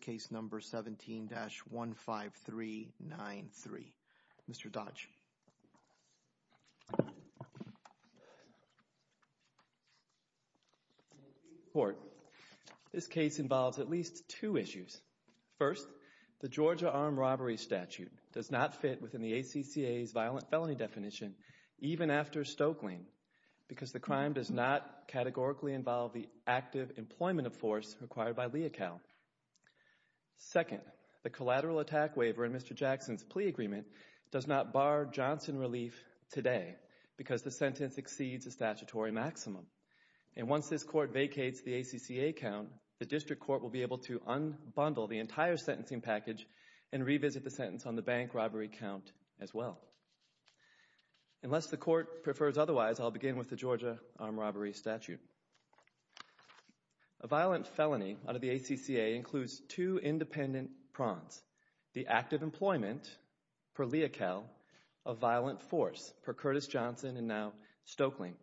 case number 17-15393. Mr. Dodge. Thank you, Your Honor. This case involves at least two issues. First, the Georgia armed robbery statute does not fit within the ACCA's violent felony definition, even after Stokelyn, because the crime does not categorically involve the active employment of force required by a plea account. Second, the collateral attack waiver in Mr. Jackson's plea agreement does not bar Johnson relief today, because the sentence exceeds the statutory maximum. And once this court vacates the ACCA count, the district court will be able to unbundle the entire sentencing package and revisit the sentence on the bank robbery count as well. Unless the court prefers otherwise, I'll begin with the Georgia armed robbery statute. A violent felony under the ACCA includes two independent prongs. The active employment per lea cal, a violent force per Curtis Johnson and now Stokelyn.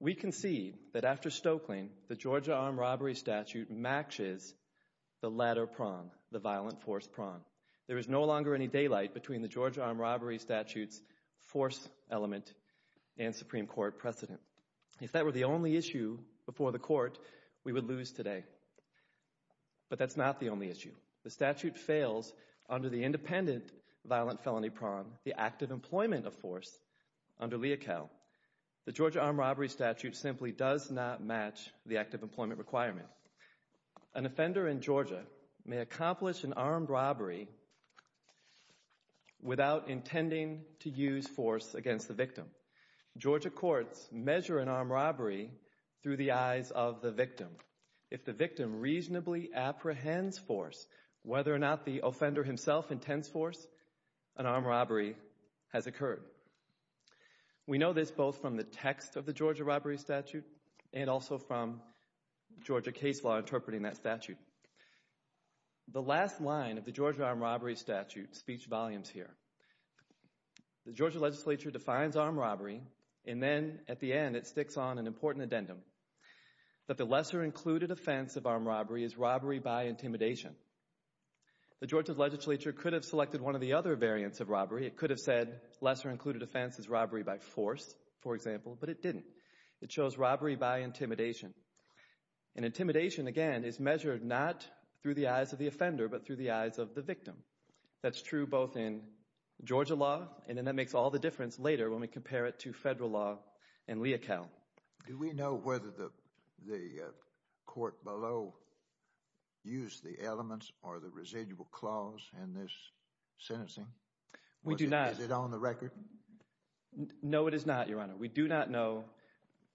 We concede that after Stokelyn, the Georgia armed robbery statute matches the latter prong, the violent force prong. There is no longer any daylight between the Georgia armed robbery statute's force element and Supreme Court precedent. If that were the only issue before the court, we would lose today. But that's not the only issue. The statute fails under the independent violent felony prong, the active employment of force under lea cal. The Georgia armed robbery statute simply does not match the active employment requirement. An offender in Georgia may accomplish an armed robbery without intending to use force against the victim. Georgia courts measure an armed robbery through the eyes of the victim. If the victim reasonably apprehends force, whether or not the offender himself intends force, an armed robbery has occurred. We know this both from the text of the Georgia robbery statute and also from Georgia case law interpreting that statute. The last line of the Georgia armed robbery statute speech volumes here. The Georgia legislature defines armed robbery and then at the end it sticks on an important addendum that the lesser included offense of armed robbery is robbery by intimidation. The Georgia legislature could have selected one of the other variants of robbery. It could have said lesser included offense is robbery by force, for example, but it didn't. It chose measure not through the eyes of the offender but through the eyes of the victim. That's true both in Georgia law and then that makes all the difference later when we compare it to federal law and lea cal. Do we know whether the court below used the elements or the residual clause in this sentencing? We do not. Is it on the record? No, it is not, Your Honor. We do not know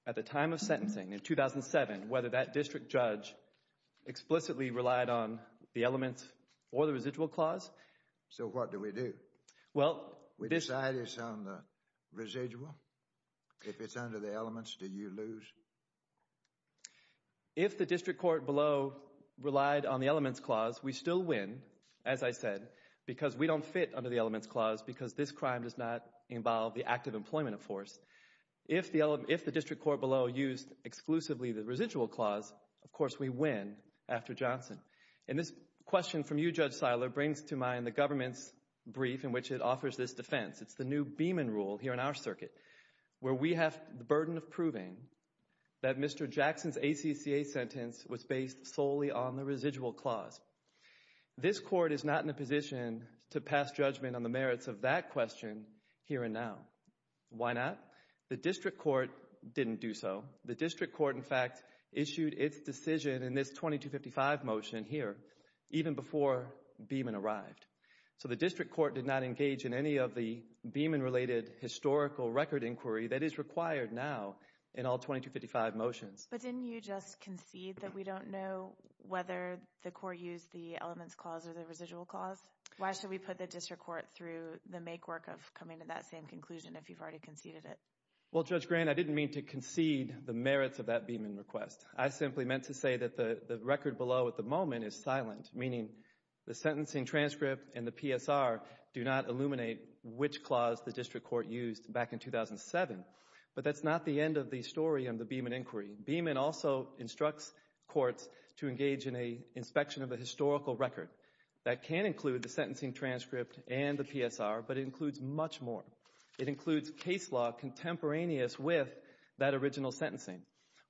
at the time of sentencing in 2007 whether that district judge explicitly relied on the elements or the residual clause. So what do we do? Well, we decide it's on the residual. If it's under the elements, do you lose? If the district court below relied on the elements clause, we still win, as I said, because we don't fit under the elements clause because this crime does not involve the act of employment of force. If the district court below used exclusively the residual clause, of course we win after Johnson. And this question from you, Judge Seiler, brings to mind the government's brief in which it offers this defense. It's the new Beaman rule here in our circuit where we have the burden of proving that Mr. Jackson's ACCA sentence was based solely on the residual clause. This court is not in a position to pass judgment on the merits of that question here and now. Why not? The district court didn't do so. The district court, in fact, issued its decision in this 2255 motion here even before Beaman arrived. So the district court did not engage in any of the Beaman-related historical record inquiry that is required now in all 2255 motions. But didn't you just concede that we don't know whether the court used the elements clause or the residual clause? Why should we put the district court through the makework of coming to that same conclusion if you've already conceded it? Well, Judge Grant, I didn't mean to concede the merits of that Beaman request. I simply meant to say that the record below at the moment is silent, meaning the sentencing transcript and the PSR do not illuminate which clause the district court used back in 2007. But that's not the end of the story on the Beaman inquiry. Beaman also instructs courts to engage in an inspection of a historical record that can include the sentencing transcript and the PSR, but it includes much more. It includes case law contemporaneous with that original sentencing.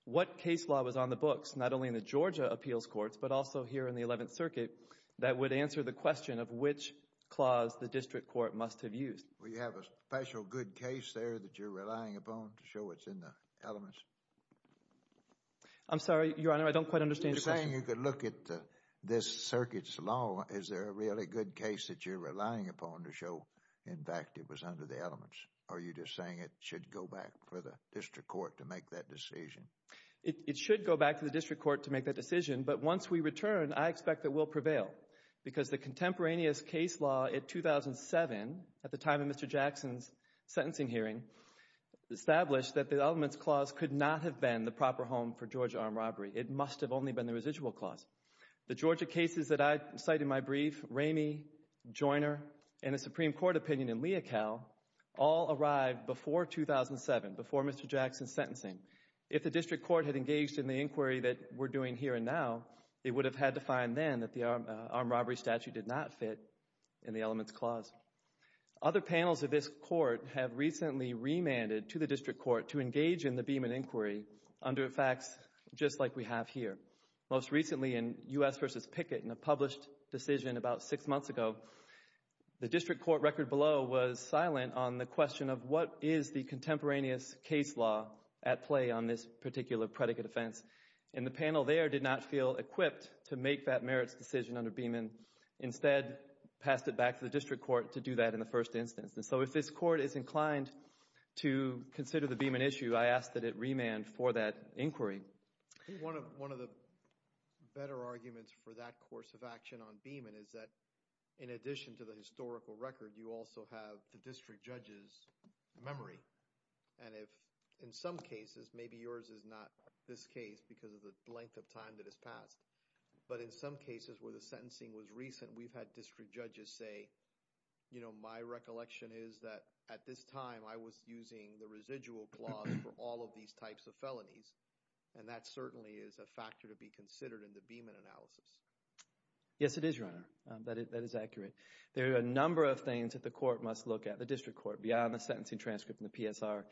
What case law was on the books, not only in the Georgia appeals courts, but also here in the Eleventh Circuit, that would answer the question of which clause the district court must have used? Well, you have a special good case there that you're relying upon to show what's in the elements? I'm sorry, Your Honor, I don't quite understand your question. You're saying you could look at this circuit's law. Is there a really good case that you're relying upon to show, in fact, it was under the elements? Or are you just saying it should go back for the district court to make that decision? It should go back to the district court to make that decision, but once we return, I expect it will prevail, because the contemporaneous case law in 2007, at the time of Mr. Jackson's sentencing hearing, established that the elements clause could not have been the proper home for Georgia armed robbery. It must have only been the residual clause. The Georgia cases that I cite in my brief, Ramey, Joiner, and a Supreme Court opinion in Leocal, all arrived before 2007, before Mr. Jackson's sentencing. If the district court had engaged in the inquiry that we're doing here and now, it would have had to find then that the armed robbery statute did not fit in the elements clause. Other panels of this court have recently remanded to the district court to engage in the Beeman inquiry under facts just like we have here. Most recently, in U.S. v. Pickett, in a published decision about six months ago, the district court record below was silent on the question of what is the contemporaneous case law at play on this particular predicate offense. And the panel there did not feel equipped to make that merits decision under Beeman. Instead, passed it back to the district court to do that in the first instance. So if this court is inclined to consider the Beeman issue, I ask that it remand for that inquiry. One of the better arguments for that course of action on Beeman is that, in addition to the historical record, you also have the district judge's memory. And if, in some cases, maybe yours is not this case because of the length of time that has passed, but in some cases where the sentencing was recent, we've had district judges say, you know, my recollection is that at this time I was using the residual clause for all of these types of felonies. And that certainly is a factor to be considered in the Beeman analysis. Yes, it is, Your Honor. That is accurate. There are a number of things that the court must look at, the district court, beyond the sentencing transcript and the PSR.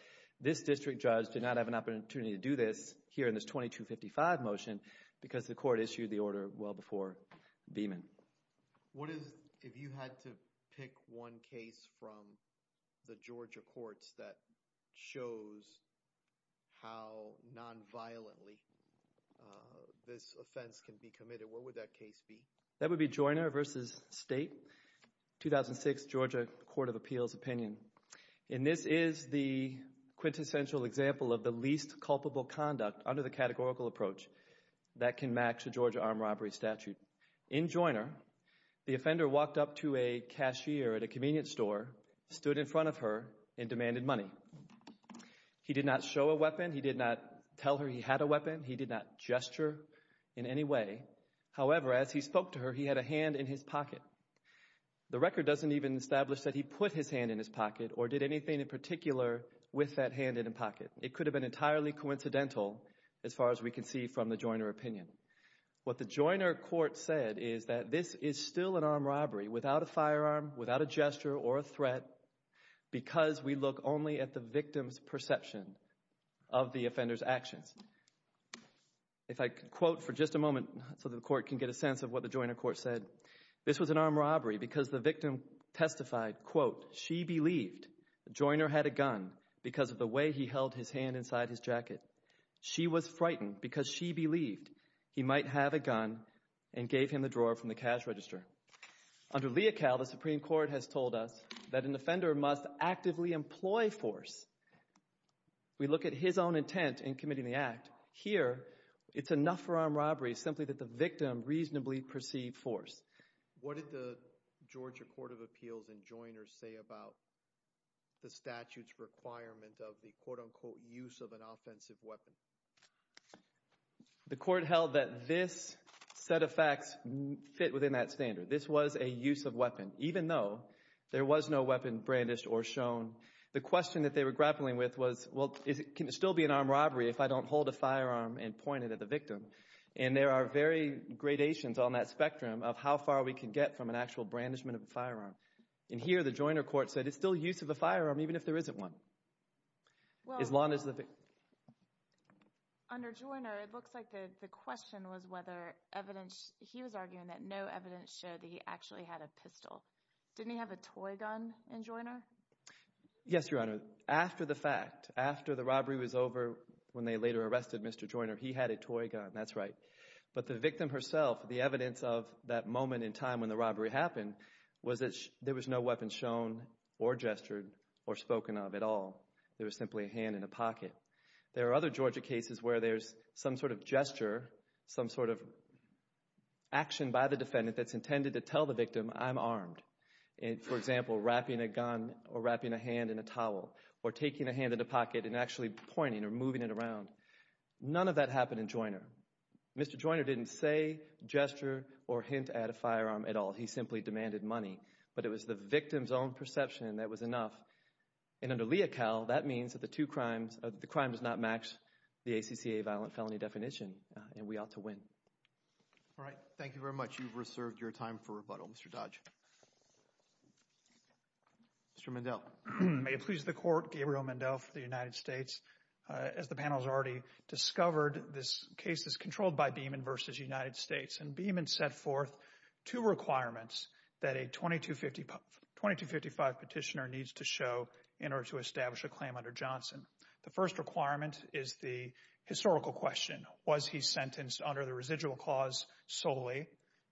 This district judge did not have an opportunity to do this here in this 2255 motion because the court issued the order well before Beeman. What is, if you had to pick one case from the Georgia courts that shows how nonviolently this offense can be committed, what would that case be? That would be Joyner v. State, 2006 Georgia Court of Appeals opinion. And this is the quintessential example of the least culpable conduct under the categorical approach that can match the Georgia armed robbery statute. In Joyner, the offender walked up to a cashier at a convenience store, stood in front of her, and demanded money. He did not show a weapon. He did not tell her he had a weapon. He did not gesture in any way. However, as he spoke to her, he had a hand in his pocket. The record doesn't even establish that he put his hand in his pocket or did anything in particular with that hand in his pocket. It could have been entirely coincidental as far as we can see from the Joyner opinion. What the Joyner court said is that this is still an armed robbery without a firearm, without a gesture or a threat because we look only at the victim's perception of the offender's actions. If I could quote for just a moment so the court can get a sense of what the Joyner court said. This was an armed robbery because the victim testified, quote, she believed Joyner had a gun because of the way he held his hand inside his jacket. She was frightened because she believed he might have a gun and gave him the drawer from the cash register. Under Leocal, the Supreme Court has told us that an offender must actively employ force. We look at his own intent in committing the act. Here, it's enough for armed robbery simply that the victim reasonably perceived force. What did the Georgia Court of Appeals in Joyner say about the statute's requirement of the quote, unquote, use of an offensive weapon? The court held that this set of facts fit within that standard. This was a use of weapon. Even though there was no weapon brandished or shown, the question that they were grappling with was, well, can it still be an armed robbery if I don't hold a firearm and point it at the victim? There are very gradations on that spectrum of how far we can get from an actual brandishment of a firearm. Here, the Joyner court said it's still use of a firearm even if there isn't one. As long as the victim... Under Joyner, it looks like the question was whether evidence, he was arguing that no evidence showed that he actually had a pistol. Didn't he have a toy gun in Joyner? Yes, Your Honor. After the fact, after the robbery was over, when they later arrested Mr. Joyner, he had a toy gun. That's right. But the victim herself, the evidence of that moment in time when the robbery happened was that there was no weapon shown or gestured or spoken of at all. There was simply a hand in a pocket. There are other Georgia cases where there's some sort of gesture, some sort of action by the defendant that's intended to tell the victim, I'm armed. For example, wrapping a gun or wrapping a hand in a towel or taking a hand in a pocket and actually pointing or moving it around. None of that happened in Joyner. Mr. Joyner didn't say, gesture, or hint at a firearm at all. He simply demanded money. But it was the victim's own perception that was enough. And under Leocal, that means that the crime does not match the ACCA violent felony definition and we ought to win. All right. Thank you very much. You've reserved your time for rebuttal, Mr. Dodge. Mr. Mendel. May it please the Court, Gabriel Mendel for the United States. As the panel has already discovered, this case is controlled by Beeman v. United States. And Beeman set forth two requirements that a 2255 petitioner needs to show in order to establish a claim under Johnson. The first requirement is the historical question. Was he sentenced under the residual clause solely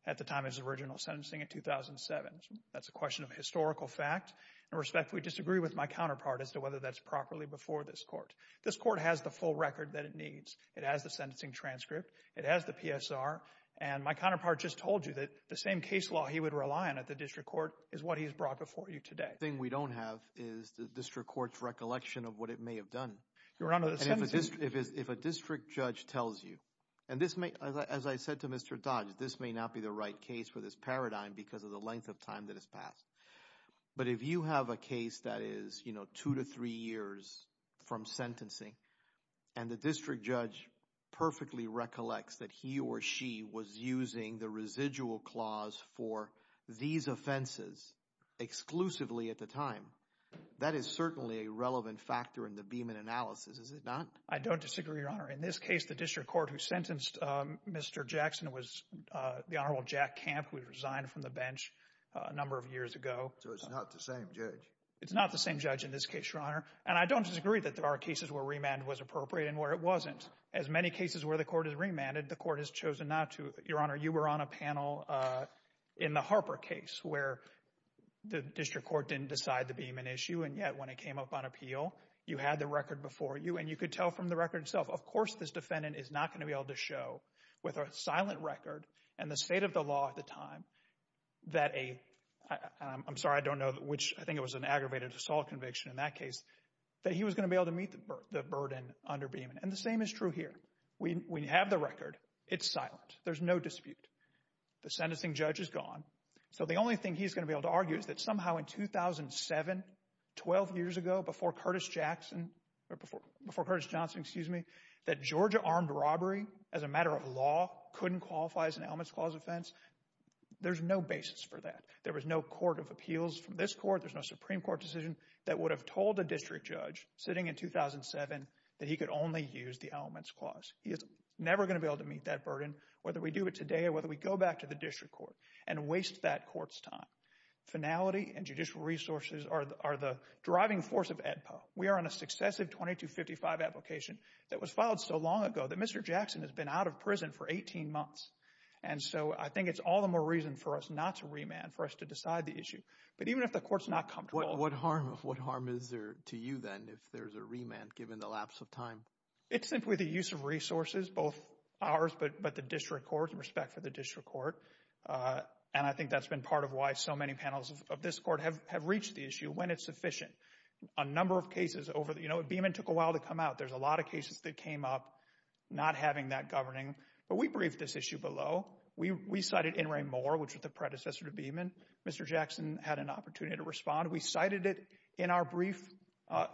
at the time of his original sentencing in 2007? That's a question of historical fact. In respect, we disagree with my counterpart as to whether that's properly before this Court. This Court has the full record that it needs. It has the sentencing transcript. It has the PSR. And my counterpart just told you that the same case law he would rely on at the district court is what he's brought before you today. The thing we don't have is the district court's recollection of what it may have done. Your Honor, the sentencing – If a district judge tells you – and this may – as I said to Mr. Dodge, this may not be the right case for this paradigm because of the length of time that has passed. But if you have a case that is, you know, two to three years from sentencing and the district judge perfectly recollects that he or she was using the residual clause for these offenses exclusively at the time, that is certainly a relevant factor in the Beaman analysis, is it not? I don't disagree, Your Honor. In this case, the district court who sentenced Mr. Jackson was the Honorable Jack Camp, who resigned from the bench a number of years ago. So it's not the same judge. It's not the same judge in this case, Your Honor. And I don't disagree that there are cases where remand was appropriate and where it wasn't. As many cases where the Court has remanded, the Court has chosen not to. Your Honor, you were on a panel in the Harper case where the district court didn't decide the Beaman issue, and yet when it came up on appeal, you had the record before you, and you could tell from the record itself, of course this defendant is not going to be able to show with a silent record and the state of the law at the time that a – I'm sorry, I don't know which – I think it was an aggravated assault conviction in that case – that he was going to be able to meet the burden under Beaman. And the same is true here. We have the record. It's silent. There's no dispute. The sentencing judge is gone. So the only thing he's going to be able to argue is that somehow in 2007, 12 years ago before Curtis Jackson – or before Curtis Johnson, excuse me, that Georgia armed robbery as a matter of law couldn't qualify as an elements clause offense. There's no basis for that. There was no court of appeals from this court. There's no Supreme Court decision that would have told a district judge sitting in 2007 that he could only use the elements clause. He is never going to be able to meet that burden whether we do it today or whether we go back to the district court and waste that court's time. Finality and judicial resources are the driving force of AEDPA. We are on a successive 2255 application that was filed so long ago that Mr. Jackson has been out of prison for 18 months. And so I think it's all the more reason for us not to remand, for us to decide the issue. But even if the court is not comfortable – It's simply the use of resources, both ours but the district court, respect for the district court. And I think that's been part of why so many panels of this court have reached the issue when it's sufficient. A number of cases over – you know, Beamon took a while to come out. There's a lot of cases that came up not having that governing. But we briefed this issue below. We cited In re More, which was the predecessor to Beamon. Mr. Jackson had an opportunity to respond. We cited it in our brief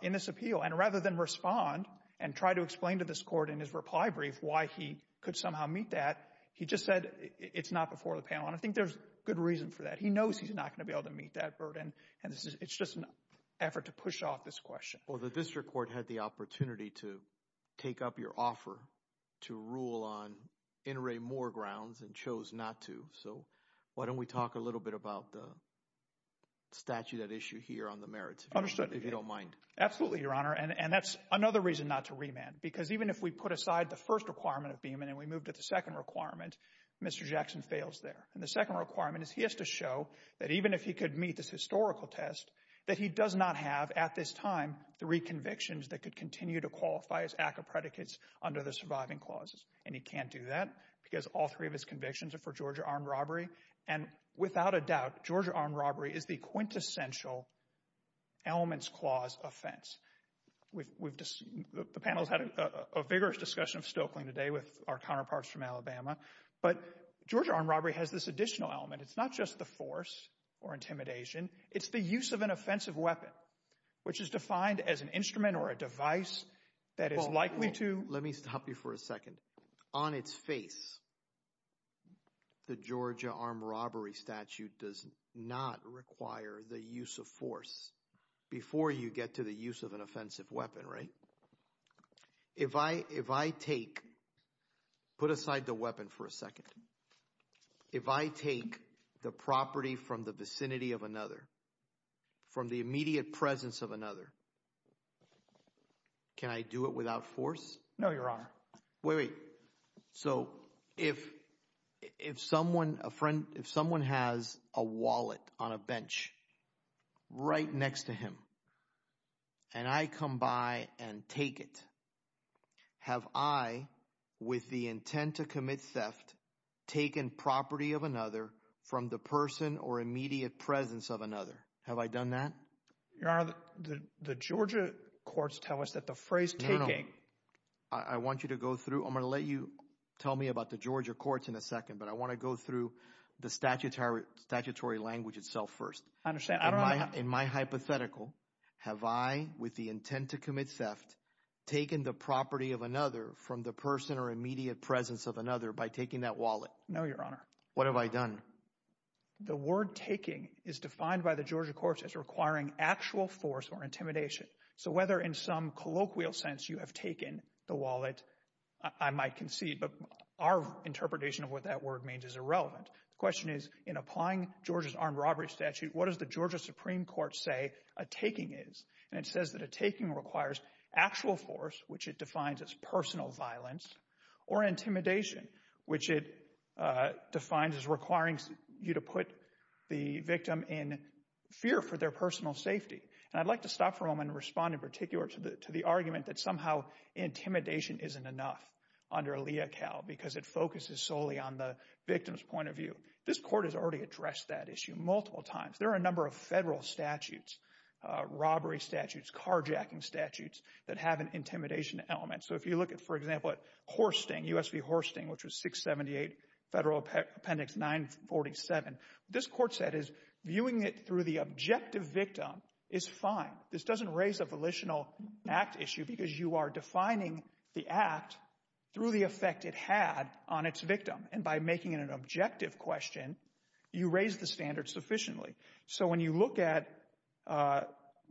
in this appeal. And rather than respond and try to explain to this court in his reply brief why he could somehow meet that, he just said it's not before the panel. And I think there's good reason for that. He knows he's not going to be able to meet that burden. And it's just an effort to push off this question. Well, the district court had the opportunity to take up your offer to rule on In re More grounds and chose not to. So why don't we talk a little bit about the statute at issue here on the merits, if you don't mind. Absolutely, Your Honor. And that's another reason not to remand because even if we put aside the first requirement of Beamon and we move to the second requirement, Mr. Jackson fails there. And the second requirement is he has to show that even if he could meet this historical test that he does not have at this time three convictions that could continue to qualify his act of predicates under the surviving clauses. And he can't do that because all three of his convictions are for Georgia armed robbery. And without a doubt, Georgia armed robbery is the quintessential elements clause offense. The panel has had a vigorous discussion of Stoeckling today with our counterparts from Alabama. But Georgia armed robbery has this additional element. It's not just the force or intimidation. It's the use of an offensive weapon, which is defined as an instrument or a device that is likely to— The Georgia armed robbery statute does not require the use of force before you get to the use of an offensive weapon, right? If I take—put aside the weapon for a second. If I take the property from the vicinity of another, from the immediate presence of another, can I do it without force? No, Your Honor. Wait, wait. So if someone—a friend—if someone has a wallet on a bench right next to him and I come by and take it, have I, with the intent to commit theft, taken property of another from the person or immediate presence of another? Have I done that? Your Honor, the Georgia courts tell us that the phrase taking— I want you to go through—I'm going to let you tell me about the Georgia courts in a second, but I want to go through the statutory language itself first. I understand. In my hypothetical, have I, with the intent to commit theft, taken the property of another from the person or immediate presence of another by taking that wallet? No, Your Honor. What have I done? The word taking is defined by the Georgia courts as requiring actual force or intimidation. So whether in some colloquial sense you have taken the wallet, I might concede, but our interpretation of what that word means is irrelevant. The question is, in applying Georgia's armed robbery statute, what does the Georgia Supreme Court say a taking is? And it says that a taking requires actual force, which it defines as personal violence, or intimidation, which it defines as requiring you to put the victim in fear for their personal safety. And I'd like to stop for a moment and respond in particular to the argument that somehow intimidation isn't enough under LEACAL because it focuses solely on the victim's point of view. This court has already addressed that issue multiple times. There are a number of federal statutes, robbery statutes, carjacking statutes, that have an intimidation element. So if you look at, for example, at Horsting, U.S. v. Horsting, which was 678 Federal Appendix 947, what this court said is viewing it through the objective victim is fine. This doesn't raise a volitional act issue because you are defining the act through the effect it had on its victim. And by making it an objective question, you raise the standard sufficiently. So when you look at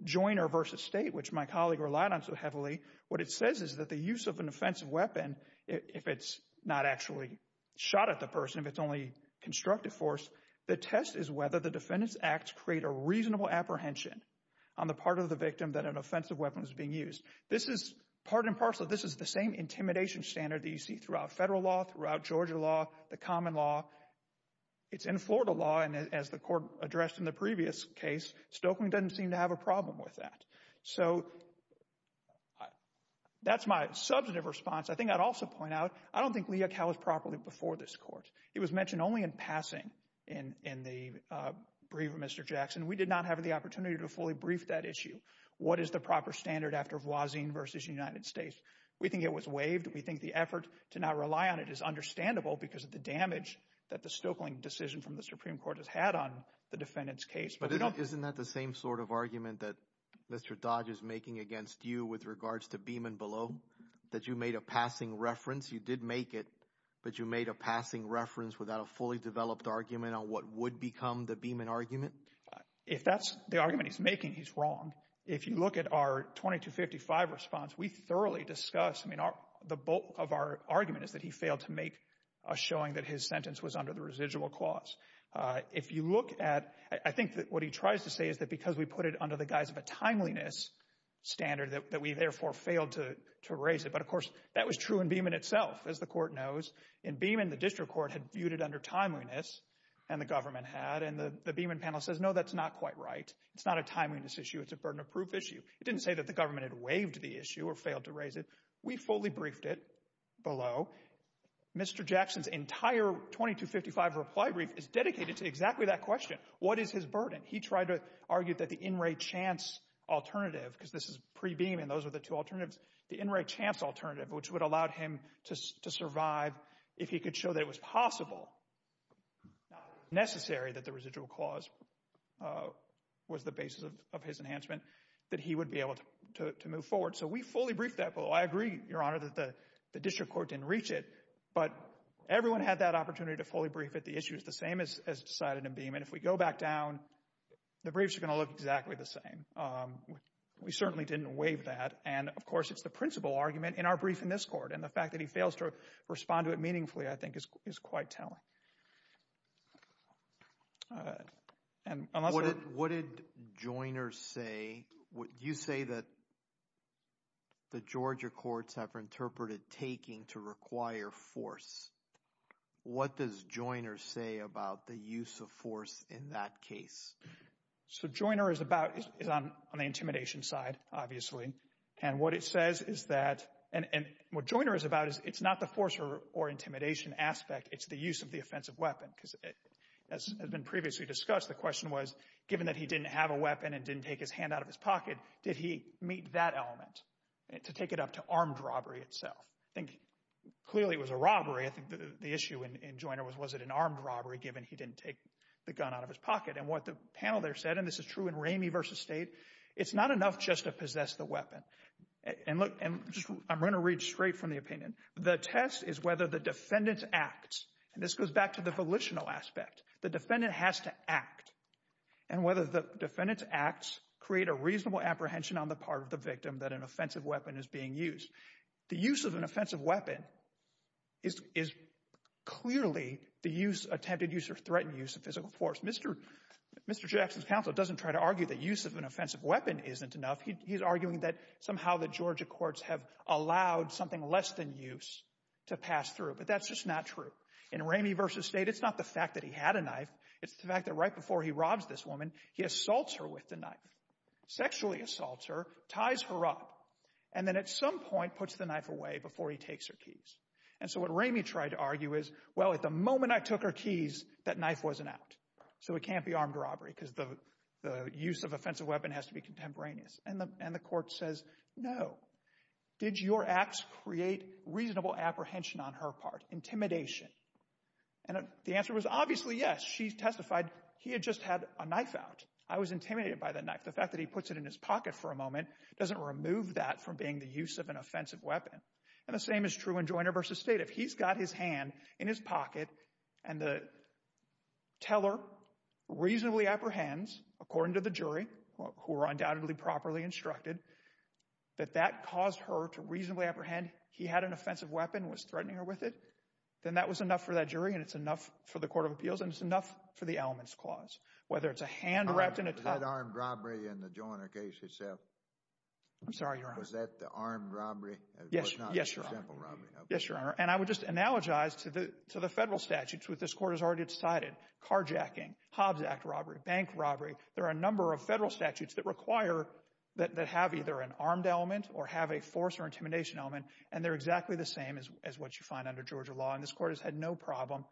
Joyner v. State, which my colleague relied on so heavily, what it says is that the use of an offensive weapon, if it's not actually shot at the person, if it's only constructive force, the test is whether the defendant's acts create a reasonable apprehension on the part of the victim that an offensive weapon is being used. This is part and parcel, this is the same intimidation standard that you see throughout federal law, throughout Georgia law, the common law. It's in Florida law, and as the court addressed in the previous case, Stokely doesn't seem to have a problem with that. So that's my substantive response. I think I'd also point out, I don't think Leakow was properly before this court. He was mentioned only in passing in the brief of Mr. Jackson. We did not have the opportunity to fully brief that issue. What is the proper standard after Voisin v. United States? We think it was waived. We think the effort to not rely on it is understandable because of the damage that the Stokeling decision from the Supreme Court has had on the defendant's case. But isn't that the same sort of argument that Mr. Dodge is making against you with regards to Beeman below, that you made a passing reference? You did make it, but you made a passing reference without a fully developed argument on what would become the Beeman argument? If that's the argument he's making, he's wrong. If you look at our 2255 response, we thoroughly discussed, I mean, the bulk of our argument is that he failed to make a showing that his sentence was under the residual clause. If you look at, I think what he tries to say is that because we put it under the guise of a timeliness standard that we therefore failed to raise it. But, of course, that was true in Beeman itself, as the court knows. In Beeman, the district court had viewed it under timeliness, and the government had, and the Beeman panel says, no, that's not quite right. It's not a timeliness issue. It's a burden of proof issue. It didn't say that the government had waived the issue or failed to raise it. We fully briefed it below. Mr. Jackson's entire 2255 reply brief is dedicated to exactly that question. What is his burden? He tried to argue that the in re chance alternative, because this is pre-Beeman, those are the two alternatives, the in re chance alternative, which would have allowed him to survive if he could show that it was possible, not necessary that the residual clause was the basis of his enhancement, that he would be able to move forward. So we fully briefed that below. I agree, Your Honor, that the district court didn't reach it, but everyone had that opportunity to fully brief it. The issue is the same as decided in Beeman. If we go back down, the briefs are going to look exactly the same. We certainly didn't waive that. And, of course, it's the principal argument in our brief in this court, and the fact that he fails to respond to it meaningfully, I think, is quite telling. What did Joyner say? You say that the Georgia courts have interpreted taking to require force. What does Joyner say about the use of force in that case? So Joyner is about, is on the intimidation side, obviously, and what it says is that, and what Joyner is about is it's not the force or intimidation aspect, it's the use of the offensive weapon, because as has been previously discussed, the question was, given that he didn't have a weapon and didn't take his hand out of his pocket, did he meet that element to take it up to armed robbery itself? I think clearly it was a robbery. I think the issue in Joyner was, was it an armed robbery, given he didn't take the gun out of his pocket? And what the panel there said, and this is true in Ramey v. State, it's not enough just to possess the weapon. And I'm going to read straight from the opinion. The test is whether the defendant acts, and this goes back to the volitional aspect, the defendant has to act, and whether the defendant's acts create a reasonable apprehension on the part of the victim that an offensive weapon is being used. The use of an offensive weapon is clearly the attempted use or threatened use of physical force. Mr. Jackson's counsel doesn't try to argue that use of an offensive weapon isn't enough. He's arguing that somehow the Georgia courts have allowed something less than use to pass through, but that's just not true. In Ramey v. State, it's not the fact that he had a knife. It's the fact that right before he robs this woman, he assaults her with the knife, sexually assaults her, ties her up, and then at some point puts the knife away before he takes her keys. And so what Ramey tried to argue is, well, at the moment I took her keys, that knife wasn't out, so it can't be armed robbery because the use of offensive weapon has to be contemporaneous. And the court says, no, did your acts create reasonable apprehension on her part, intimidation? And the answer was obviously yes. She testified he had just had a knife out. I was intimidated by the knife. The fact that he puts it in his pocket for a moment doesn't remove that from being the use of an offensive weapon. And the same is true in Joyner v. State. If he's got his hand in his pocket and the teller reasonably apprehends, according to the jury, who are undoubtedly properly instructed, that that caused her to reasonably apprehend he had an offensive weapon and was threatening her with it, then that was enough for that jury and it's enough for the court of appeals and it's enough for the elements clause. Whether it's a hand wrapped in a tie. Was that armed robbery in the Joyner case itself? I'm sorry, Your Honor. Was that the armed robbery? Yes, Your Honor. It was not a simple robbery. Yes, Your Honor. And I would just analogize to the federal statutes, which this court has already decided, carjacking, Hobbs Act robbery, bank robbery, there are a number of federal statutes that require, that have either an armed element or have a force or intimidation element, and they're exactly the same as what you find under Georgia law. And this court has had no problem.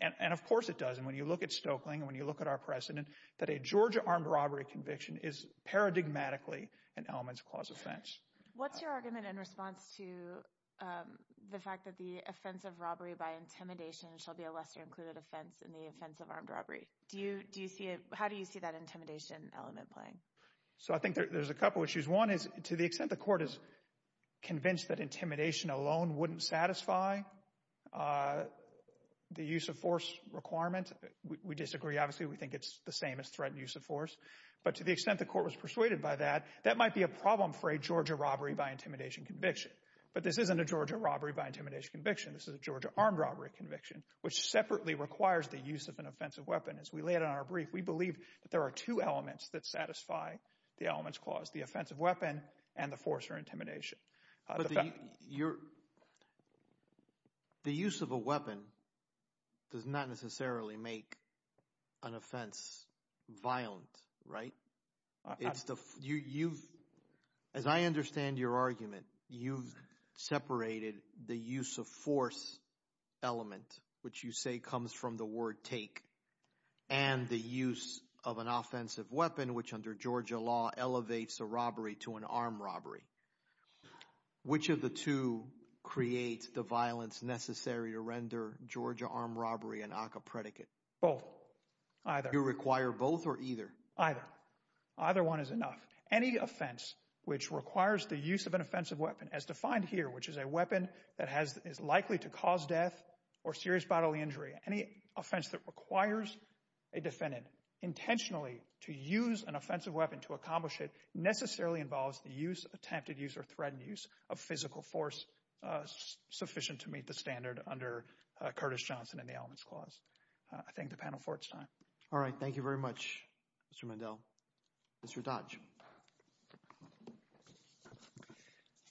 And, of course, it does. And when you look at Stoeckling and when you look at our precedent, that a Georgia armed robbery conviction is paradigmatically an elements clause offense. What's your argument in response to the fact that the offense of robbery by intimidation shall be a lesser included offense in the offense of armed robbery? How do you see that intimidation element playing? So I think there's a couple issues. One is to the extent the court is convinced that intimidation alone wouldn't satisfy the use of force requirement. We disagree. Obviously, we think it's the same as threatened use of force. But to the extent the court was persuaded by that, that might be a problem for a Georgia robbery by intimidation conviction. But this isn't a Georgia robbery by intimidation conviction. This is a Georgia armed robbery conviction, which separately requires the use of an offensive weapon. As we lay it on our brief, we believe that there are two elements that satisfy the elements clause, the offensive weapon and the force or intimidation. But the use of a weapon does not necessarily make an offense violent, right? As I understand your argument, you've separated the use of force element, which you say comes from the word take, and the use of an offensive weapon, which under Georgia law elevates a robbery to an armed robbery. Which of the two creates the violence necessary to render Georgia armed robbery an ACCA predicate? Both, either. Do you require both or either? Either. Either one is enough. Any offense which requires the use of an offensive weapon, as defined here, which is a weapon that is likely to cause death or serious bodily injury, any offense that requires a defendant intentionally to use an offensive weapon to accomplish it necessarily involves the use, attempted use, or threatened use of physical force sufficient to meet the standard under Curtis Johnson and the elements clause. I thank the panel for its time. All right. Thank you very much, Mr. Mandel. Mr. Dodge.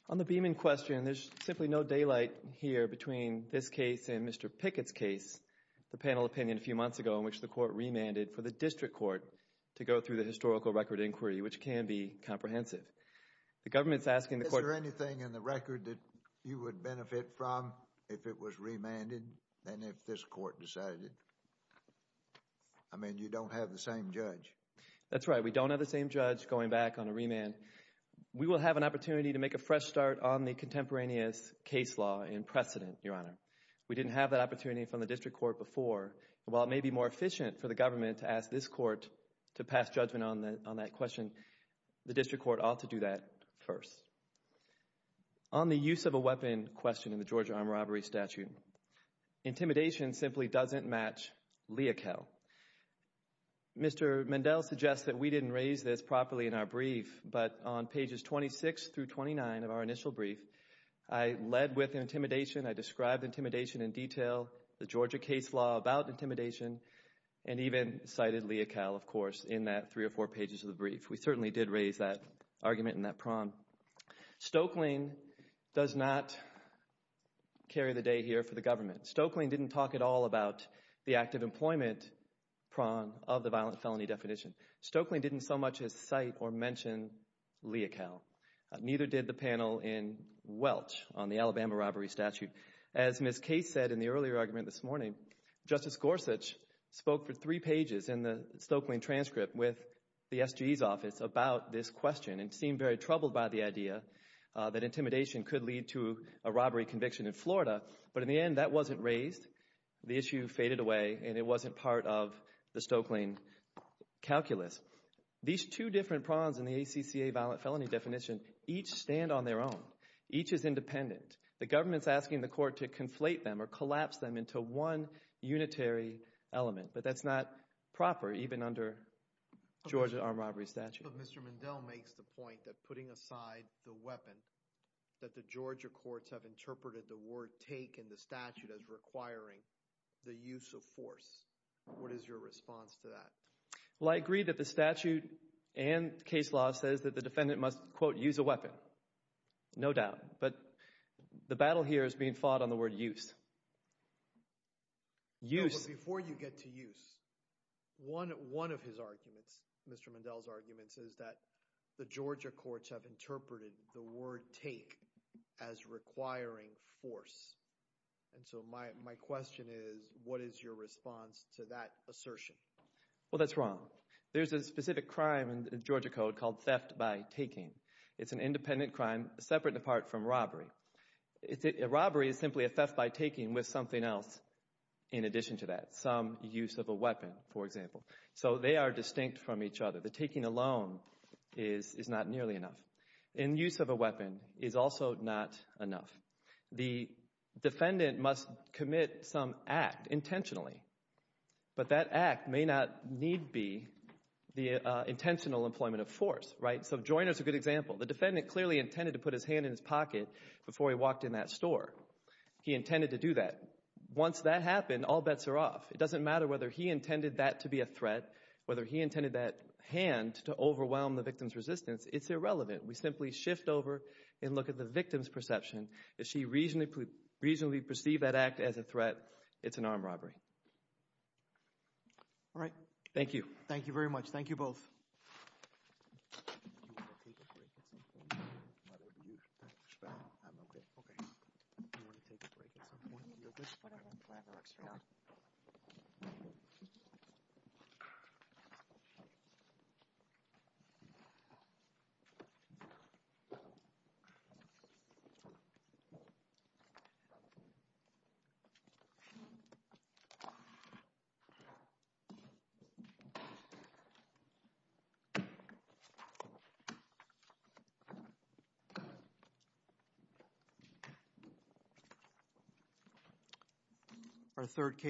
On the Beeman question, there's simply no daylight here between this case and Mr. Pickett's case, the panel opinion a few months ago in which the court remanded for the district court to go through the historical record inquiry, which can be comprehensive. The government is asking the court Is there anything in the record that you would benefit from if it was remanded than if this court decided it? I mean, you don't have the same judge. That's right. We don't have the same judge going back on a remand. We will have an opportunity to make a fresh start on the contemporaneous case law in precedent, Your Honor. We didn't have that opportunity from the district court before. While it may be more efficient for the government to ask this court to pass judgment on that question, the district court ought to do that first. On the use of a weapon question in the Georgia armed robbery statute, intimidation simply doesn't match lea cal. Mr. Mendel suggests that we didn't raise this properly in our brief, but on pages 26 through 29 of our initial brief, I led with intimidation, I described intimidation in detail, the Georgia case law about intimidation, and even cited lea cal, of course, in that three or four pages of the brief. We certainly did raise that argument in that prom. Stokelyne does not carry the day here for the government. Stokelyne didn't talk at all about the active employment prom of the violent felony definition. Stokelyne didn't so much as cite or mention lea cal. Neither did the panel in Welch on the Alabama robbery statute. As Ms. Case said in the earlier argument this morning, Justice Gorsuch spoke for three pages in the Stokelyne transcript with the SGE's office about this question and seemed very troubled by the idea that intimidation could lead to a robbery conviction in Florida, but in the end that wasn't raised. The issue faded away, and it wasn't part of the Stokelyne calculus. These two different proms in the ACCA violent felony definition each stand on their own. Each is independent. The government's asking the court to conflate them or collapse them into one unitary element, but that's not proper even under Georgia armed robbery statute. But Mr. Mendel makes the point that putting aside the weapon, that the Georgia courts have interpreted the word take in the statute as requiring the use of force. What is your response to that? Well, I agree that the statute and case law says that the defendant must, quote, use a weapon. No doubt. But the battle here is being fought on the word use. Before you get to use, one of his arguments, Mr. Mendel's arguments, is that the Georgia courts have interpreted the word take as requiring force. And so my question is, what is your response to that assertion? Well, that's wrong. There's a specific crime in the Georgia code called theft by taking. It's an independent crime separate and apart from robbery. A robbery is simply a theft by taking with something else in addition to that, some use of a weapon, for example. So they are distinct from each other. The taking alone is not nearly enough. And use of a weapon is also not enough. The defendant must commit some act intentionally. But that act may not need be the intentional employment of force, right? So Joyner is a good example. The defendant clearly intended to put his hand in his pocket before he walked in that store. He intended to do that. Once that happened, all bets are off. It doesn't matter whether he intended that to be a threat, whether he intended that hand to overwhelm the victim's resistance. It's irrelevant. We simply shift over and look at the victim's perception. If she reasonably perceived that act as a threat, it's an armed robbery. All right. Thank you. Thank you very much. Thank you both. Do you want to take a break at some point? Why would you? I'm OK. OK. Do you want to take a break at some point? Whatever works for you. Yeah. Thank you.